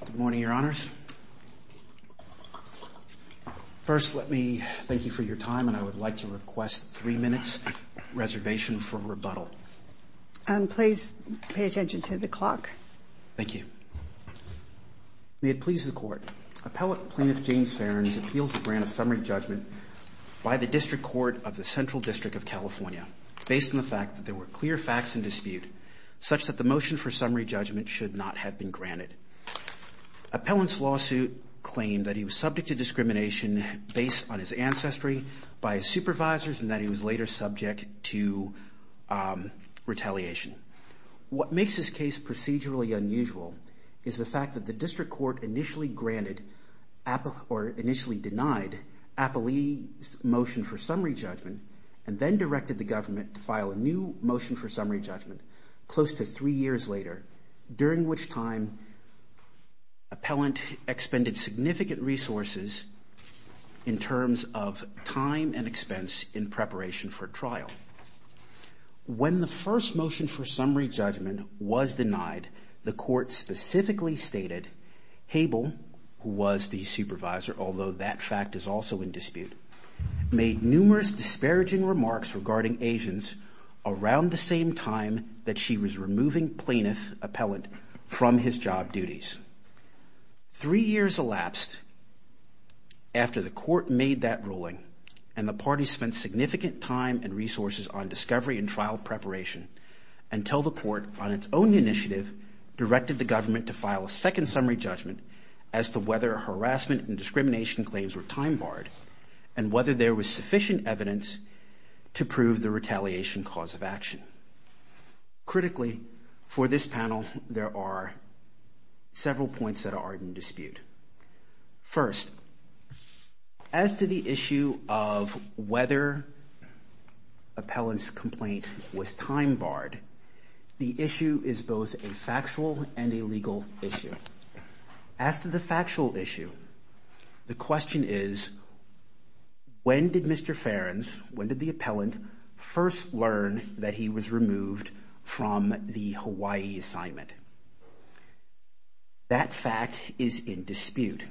Good morning, Your Honors. First, let me thank you for your time, and I would like to request three minutes' reservation for rebuttal. And please pay attention to the clock. Thank you. May it please the Court, Appellate Plaintiff James Farrens appeals the grant of summary judgment by the District Court of the Central District of California, based on the fact that there were clear facts in dispute, such that the motion for summary judgment should not have been granted. Appellant's lawsuit claimed that he was subject to discrimination based on his ancestry, by his supervisors, and that he was later subject to retaliation. What makes this case procedurally unusual is the fact that the District Court initially granted or initially denied Appellee's motion for summary judgment, and then directed the government to file a new motion for summary judgment close to three years later, during which time Appellant expended significant resources in terms of time and expense in preparation for trial. When the first motion for summary judgment was denied, the Court specifically stated, Hable, who was the supervisor, although that fact is also in dispute, made numerous disparaging remarks regarding Asians around the same time that she was removing Plaintiff Appellant from his job duties. Three years elapsed after the Court made that ruling, and the parties spent significant time and resources on discovery and trial preparation, until the Court, on its own initiative, directed the government to file a second summary judgment as to whether harassment and discrimination claims were time-barred, and whether there was sufficient evidence to prove the retaliation cause of action. Critically, for this panel, there are several points that are in dispute. First, as to the issue of whether Appellant's complaint was time-barred, the issue is both a factual and When did Mr. Ferencz, when did the Appellant first learn that he was removed from the Hawaii assignment? That fact is in dispute.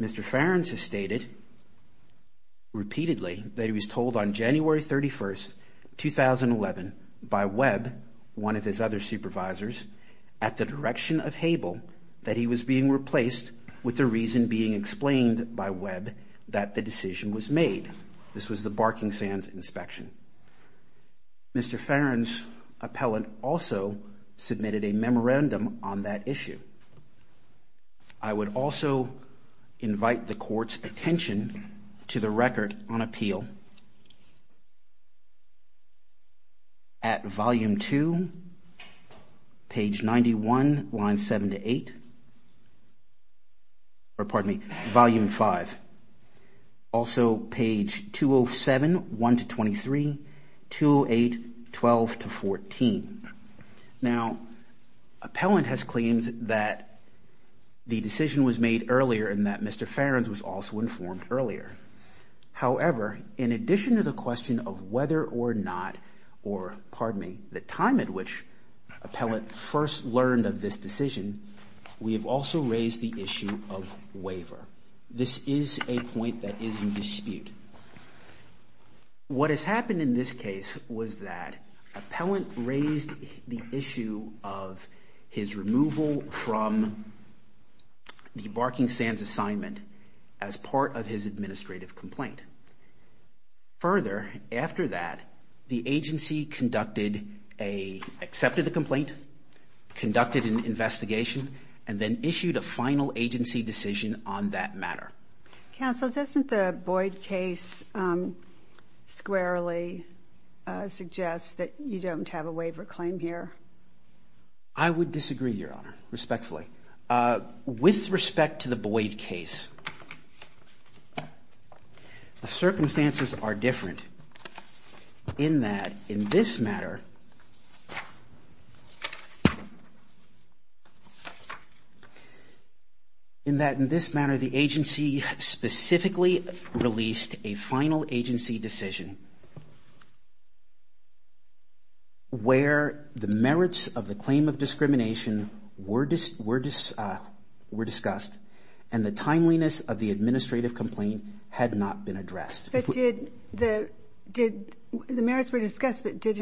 Mr. Ferencz has stated, repeatedly, that he was told on January 31, 2011, by Webb, one of his other supervisors, at the direction of Hable, that the reason being explained by Webb that the decision was made. This was the Barking Sands inspection. Mr. Ferencz, Appellant, also submitted a memorandum on that issue. I would also invite the Court's attention to the record on appeal. At Volume 2, page 91, lines 7 to 8, or pardon me, Volume 5. Also, page 207, 1 to 23, 208, 12 to 14. Now, Appellant has claimed that the decision was made earlier and that Mr. Ferencz was also informed earlier. However, in addition to the question of whether or not, or pardon me, the time at which Appellant first learned of this decision, we have also raised the issue of waiver. This is a point that is in dispute. What has happened in this case was that Appellant raised the issue of his removal from the Barking Sands assignment as part of his administrative complaint. Further, after that, the agency accepted the complaint, conducted an investigation, and then issued a final agency decision on that matter. Counsel, doesn't the Boyd case squarely suggest that you don't have a waiver claim here? I would disagree, Your Honor, respectfully. With respect to the Boyd case, the circumstances are different in that, in this matter, the agency specifically released a final agency decision where the merits of the claim of discrimination were discussed and the timeliness of the administrative complaint had not been addressed. But did the merits were discussed, but did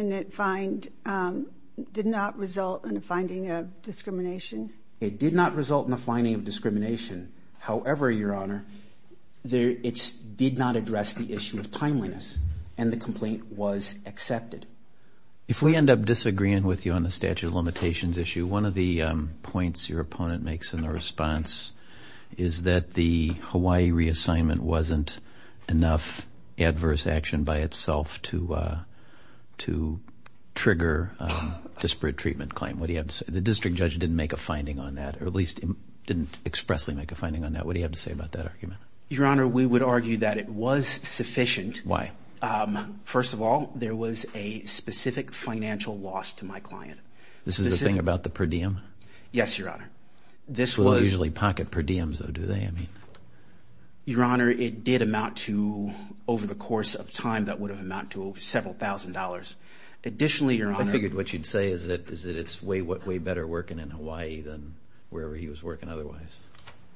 not result in a finding of discrimination? It did not result in a finding of discrimination. However, Your Honor, it did not address the issue of timeliness and the complaint was accepted. If we end up disagreeing with you on the statute of limitations issue, one of the points your opponent makes in the response is that the Hawaii reassignment wasn't enough adverse action by itself to trigger a disparate treatment claim. The district judge didn't make a finding on that, or at least didn't expressly make a finding on that. What do you have to say about that argument? Your Honor, we would argue that it was sufficient. Why? First of all, there was a specific financial loss to my client. This is the thing about the per diem? Yes, Your Honor. This was usually pocket per diems, though, do they? I mean, Your Honor, it did amount to over the course of time, that would have amount to several thousand dollars. Additionally, Your Honor, I figured what you'd say is that is that it's way, way better working in Hawaii than wherever he was working otherwise.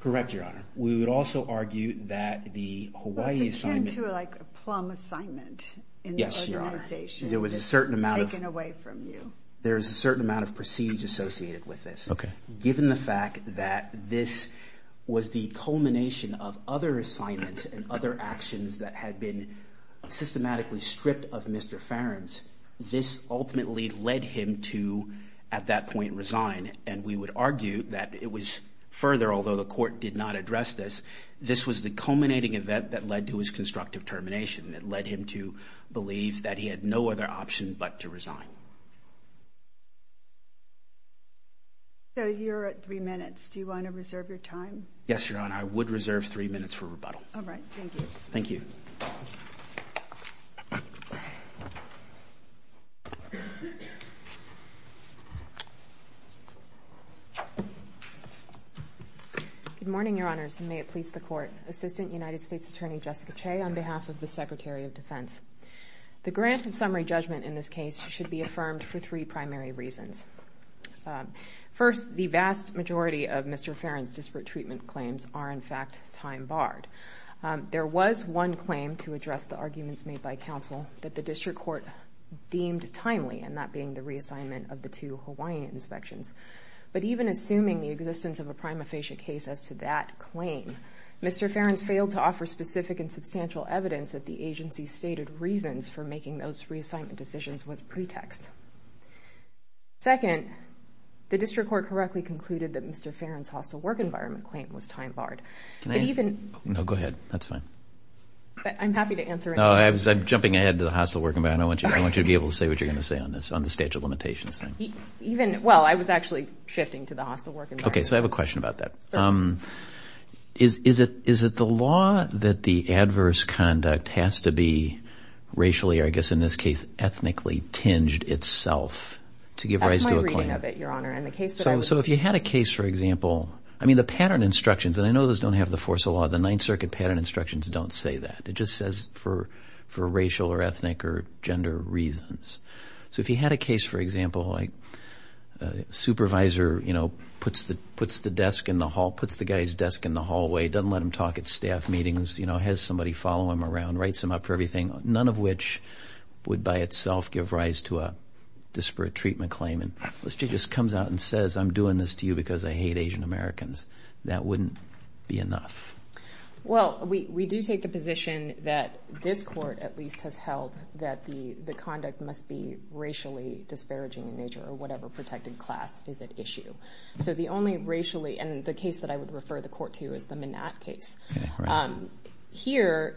Correct, Your Honor. We would also argue that the Hawaii assignment to like a plum assignment. Yes, Your Honor. There was a certain amount of taken away from you. There's a certain amount of procedure associated with this. Okay. Given the fact that this was the culmination of other assignments and other actions that had been systematically stripped of Mr. Farrans, this ultimately led him to, at that point, resign. And we would argue that it was further, although the court did not address this, this was the culminating event that led to his constructive termination that led him to believe that he had no other option but to resign. So you're at three minutes. Do you want to reserve your time? Yes, Your Honor. I would reserve three minutes for rebuttal. All right. Thank you. Thank you. Good morning, Your Honors, and may it please the Court. Assistant United States Attorney Jessica Che on behalf of the Secretary of Defense. The grant and summary judgment in this case should be affirmed for three primary reasons. First, the vast majority of Mr. Farrans' disparate treatment claims are, in fact, time barred. There was one claim to address the arguments made by counsel that the district court deemed timely, and that being the reassignment of the two Hawaiian inspections. But even assuming the existence of a prima facie case as to that claim, Mr. Farrans failed to offer specific and substantial evidence that the agency's stated reasons for making those reassignment decisions was pretext. Second, the district court correctly concluded that Mr. Farrans' hostile work environment claim was time barred. Can I? No, go ahead. That's fine. I'm happy to answer any questions. No, I'm jumping ahead to the hostile work environment. I want you to be able to say what you're going to say on this, on the statute of limitations thing. Even, well, I was actually shifting to the hostile work environment. Okay, so I have a question about that. Is it the law that the adverse conduct has to be racially, or I guess in this case, ethnically tinged itself to give rise to a claim? That's my reading of it, Your Honor. And the case that I was... So if you had a case, for example... I mean, the pattern instructions, and I know those don't have the force of law, the Ninth Circuit pattern instructions don't say that. It just says for racial or ethnic or gender reasons. So if you had a case, for example, like a supervisor puts the guy's desk in the hallway, doesn't let him talk at staff meetings, has somebody follow him around, writes him up for everything, none of which would by itself give rise to a disparate treatment claim. And this judge just comes out and says, I'm doing this to you because I hate Asian Americans. That wouldn't be enough. Well, we do take the position that this court, at least, has held that the conduct must be racially disparaging in nature or whatever protected class is at issue. So the only racially... And the case that I would refer the court to is the Minat case. Here,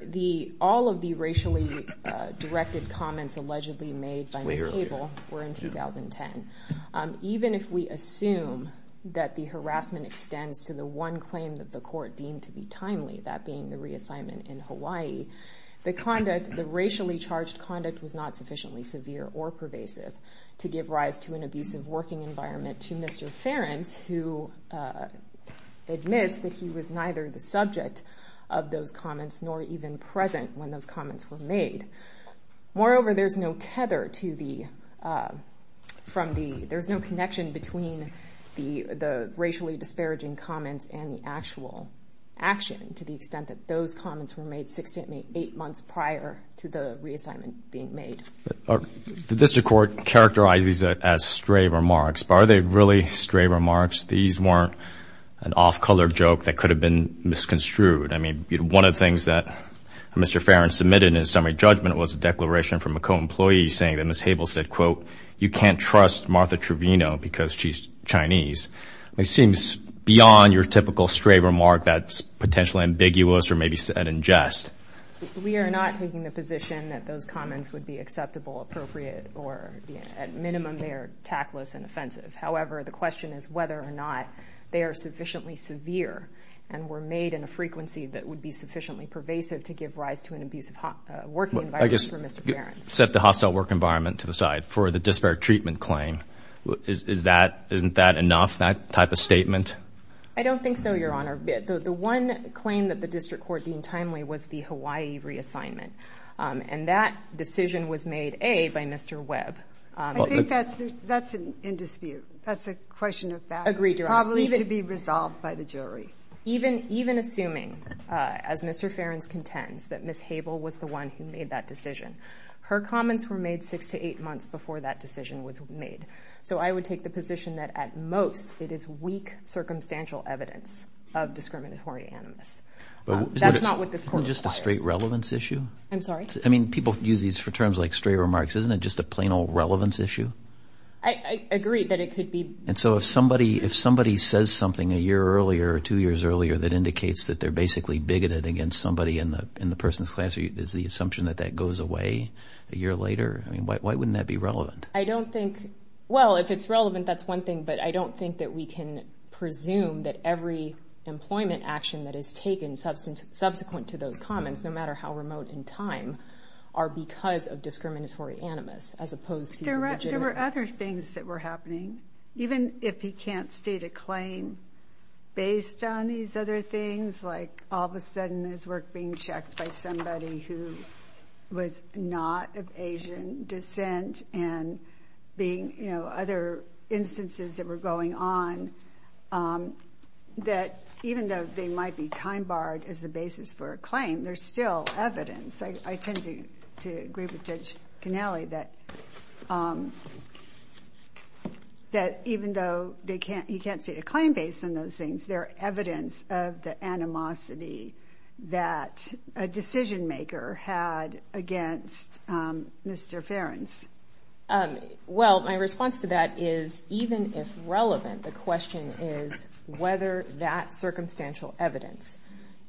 all of the racially directed comments allegedly made by Ms. Cable were in 2010. Even if we assume that the harassment extends to the one claim that the court deemed to be timely, that being the reassignment in Hawaii, the conduct, the racially charged conduct was not sufficiently severe or pervasive to give rise to an abusive working environment to Mr. Ferentz, who admits that he was neither the subject of those comments nor even present when those comments were made. Moreover, there's no tether to the... There's no connection between the racially disparaging comments and the actual action to the extent that those comments were made six to eight months prior to the reassignment being made. The district court characterized these as stray remarks, but are they really stray remarks? These weren't an off-color joke that could have been misconstrued. I mean, one of the things that Mr. Ferentz submitted in his summary judgment was a declaration from a co-employee saying that Ms. Cable said, quote, you can't trust Martha Trevino because she's Chinese. It seems beyond your typical stray remark that's potentially ambiguous or maybe said in jest. We are not taking the position that those comments would be acceptable, appropriate, or at minimum, they're tactless and offensive. However, the question is whether or not they are sufficiently severe and were made in a frequency that would be sufficiently pervasive to give rise to an abusive working environment for Mr. Ferentz. Set the hostile work environment to the side for the disparate treatment claim. Isn't that enough, that type of statement? I don't think so, Your Honor. The one claim that the district court deemed timely was the Hawaii reassignment. And that decision was made, A, by Mr. Webb. I think that's in dispute. That's a question of fact. Agreed, Your Honor. Probably to be resolved by the jury. Even assuming, as Mr. Ferentz contends, that Ms. Cable was the one who made that decision. Her comments were made six to eight months before that decision was made. So I would take the position that, at most, it is weak circumstantial evidence of discriminatory animus. That's not what this court requires. Just a straight relevance issue? I'm sorry? I mean, people use these for terms like straight remarks. Isn't it just a plain old relevance issue? I agree that it could be. And so if somebody says something a year earlier or two years earlier that indicates that they're basically bigoted against somebody in the person's class, is the assumption that that goes away a year later? I mean, why wouldn't that be relevant? I don't think, well, if it's relevant, that's one thing. But I don't think that we can presume that every employment action that is taken subsequent to those comments, no matter how remote in time, are because of discriminatory animus, as opposed to the legitimate. There were other things that were happening. Even if he can't state a claim based on these other things, like all of a sudden his work being checked by somebody who was not of Asian descent and being, you know, other instances that were going on, that even though they might be time-barred as the basis for a claim, there's still evidence. I tend to agree with Judge Cannelli that even though he can't state a claim based on those things, there are evidence of the animosity that a decision-maker had against Mr. Ferencz. Well, my response to that is, even if relevant, the question is whether that circumstantial evidence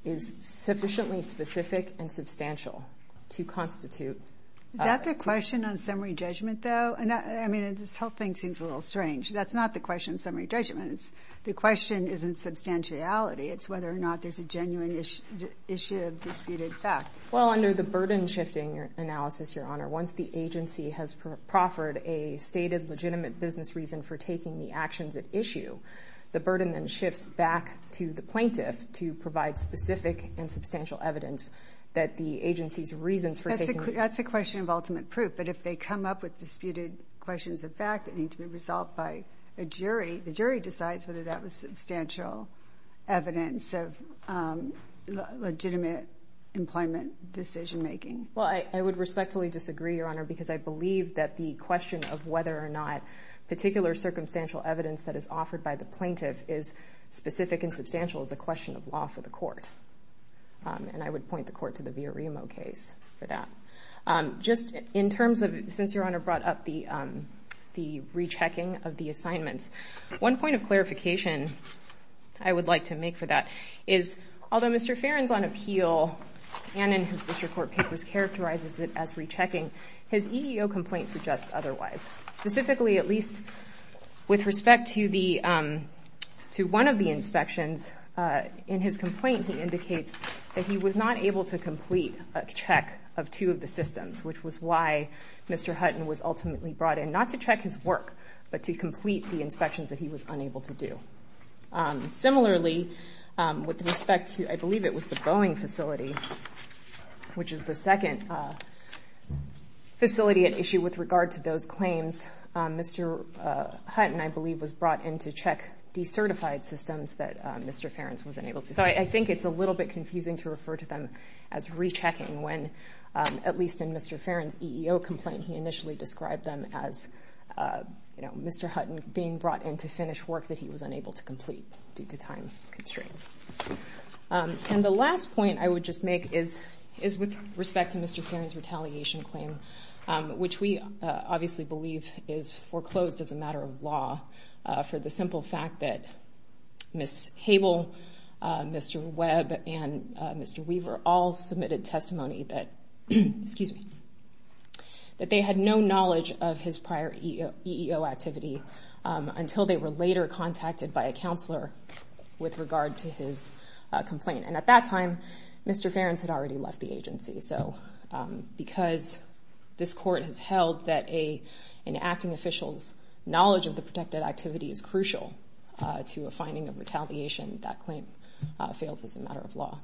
is sufficiently specific and substantial to constitute a claim. Is that the question on summary judgment, though? I mean, this whole thing seems a little it's whether or not there's a genuine issue of disputed fact. Well, under the burden-shifting analysis, Your Honor, once the agency has proffered a stated legitimate business reason for taking the actions at issue, the burden then shifts back to the plaintiff to provide specific and substantial evidence that the agency's reasons for taking the actions at issue. That's a question of ultimate proof. But if they come up with disputed questions of fact that need to be resolved by a jury, the jury decides whether that was substantial evidence of legitimate employment decision-making. Well, I would respectfully disagree, Your Honor, because I believe that the question of whether or not particular circumstantial evidence that is offered by the plaintiff is specific and substantial is a question of law for the court. And I would point the court to the Villarimo case for that. Just in terms of, since Your Honor brought up the rechecking of the assignments, one point of clarification I would like to make for that is, although Mr. Farron's on appeal and in his district court papers characterizes it as rechecking, his EEO complaint suggests otherwise. Specifically, at least with respect to one of the inspections, in his complaint he indicates that he was not able to complete a check of two of the systems, which was why Mr. Hutton was ultimately brought in, not to check his work, but to complete the inspections that he was unable to do. Similarly, with respect to, I believe it was the Boeing facility, which is the second facility at issue with regard to those claims, Mr. Hutton, I believe, was brought in to check decertified systems that Mr. Farron's was unable to see. So I think it's a little bit confusing to refer to them as rechecking when, at least in Mr. Farron's EEO complaint, he initially described them as Mr. Hutton being brought in to finish work that he was unable to complete due to time constraints. And the last point I would just make is with respect to Mr. Farron's retaliation claim, which we obviously believe is foreclosed as a matter of law for the simple fact that Ms. Webb and Mr. Weaver all submitted testimony that they had no knowledge of his prior EEO activity until they were later contacted by a counselor with regard to his complaint. And at that time, Mr. Farron's had already left the agency. So because this court has held that an acting official's knowledge of the protected activity is crucial to a finding of retaliation, that claim fails as a matter of law.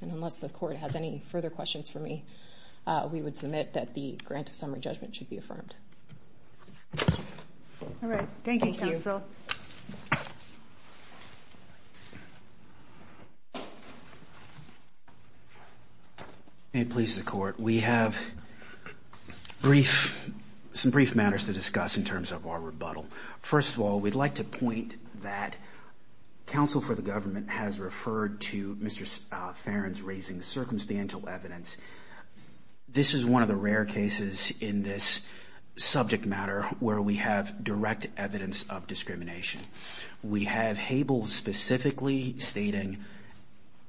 And unless the court has any further questions for me, we would submit that the grant of summary judgment should be affirmed. All right. Thank you, counsel. May it please the court. We have some brief matters to discuss in terms of our rebuttal. First of all, we'd like to point that counsel for the government has referred to Mr. Farron's raising circumstantial evidence. This is one of the rare cases in this subject matter where we have direct evidence of discrimination. We have Habel specifically stating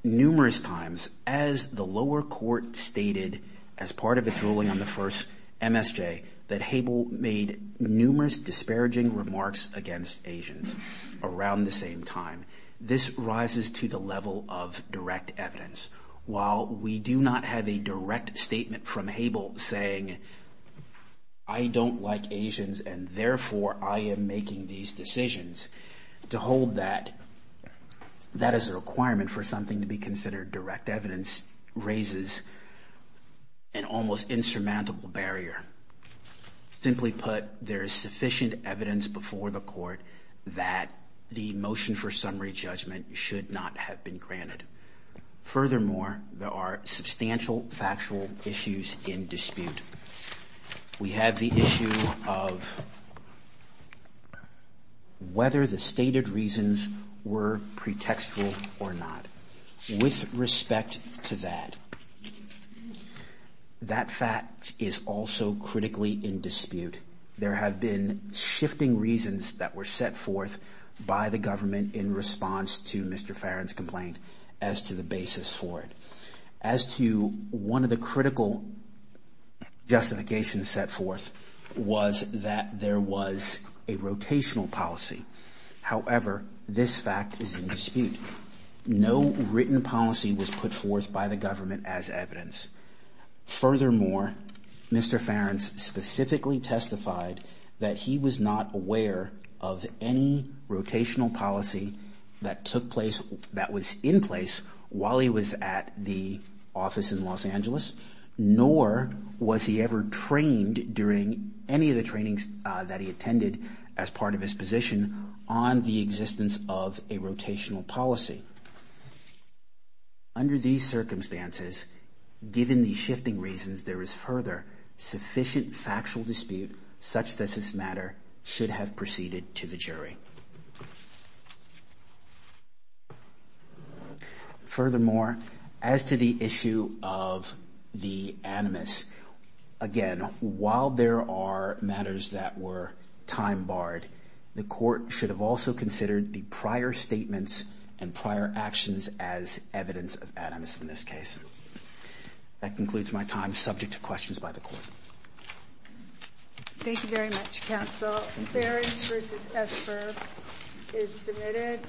numerous times, as the lower court stated as part of its ruling on the first MSJ, that Habel made numerous disparaging remarks against Asians around the same time. This rises to the level of direct evidence. While we do not have a direct statement from Habel saying, I don't like Asians and therefore I am making these decisions, to hold that as a requirement for something to be considered direct evidence raises an almost insurmountable barrier. Simply put, there is sufficient evidence before the court that the motion for summary judgment should not have been granted. Furthermore, there are substantial factual issues in dispute. We have the issue of whether the stated reasons were pretextual or not. With respect to that, that fact is also critically in dispute. There have been shifting reasons that were set forth by the government in response to Mr. Farron's complaint as to the basis for it. As to one of the critical justifications set forth was that there was a rotational policy. However, this fact is in dispute. No written policy was put forth by the government as evidence. Furthermore, Mr. Farron specifically testified that he was not aware of any rotational policy that was in place while he was at the office in Los Angeles, nor was he ever trained during any of the trainings that he attended as part of his position on the existence of a rotational policy. Under these circumstances, given these shifting reasons, there is further sufficient factual dispute such that this matter should have proceeded to the jury. Furthermore, as to the issue of the animus, again, while there are matters that were time-barred, the Court should have also considered the prior statements and prior actions as evidence of animus in this case. That concludes my time, subject to questions by the Court.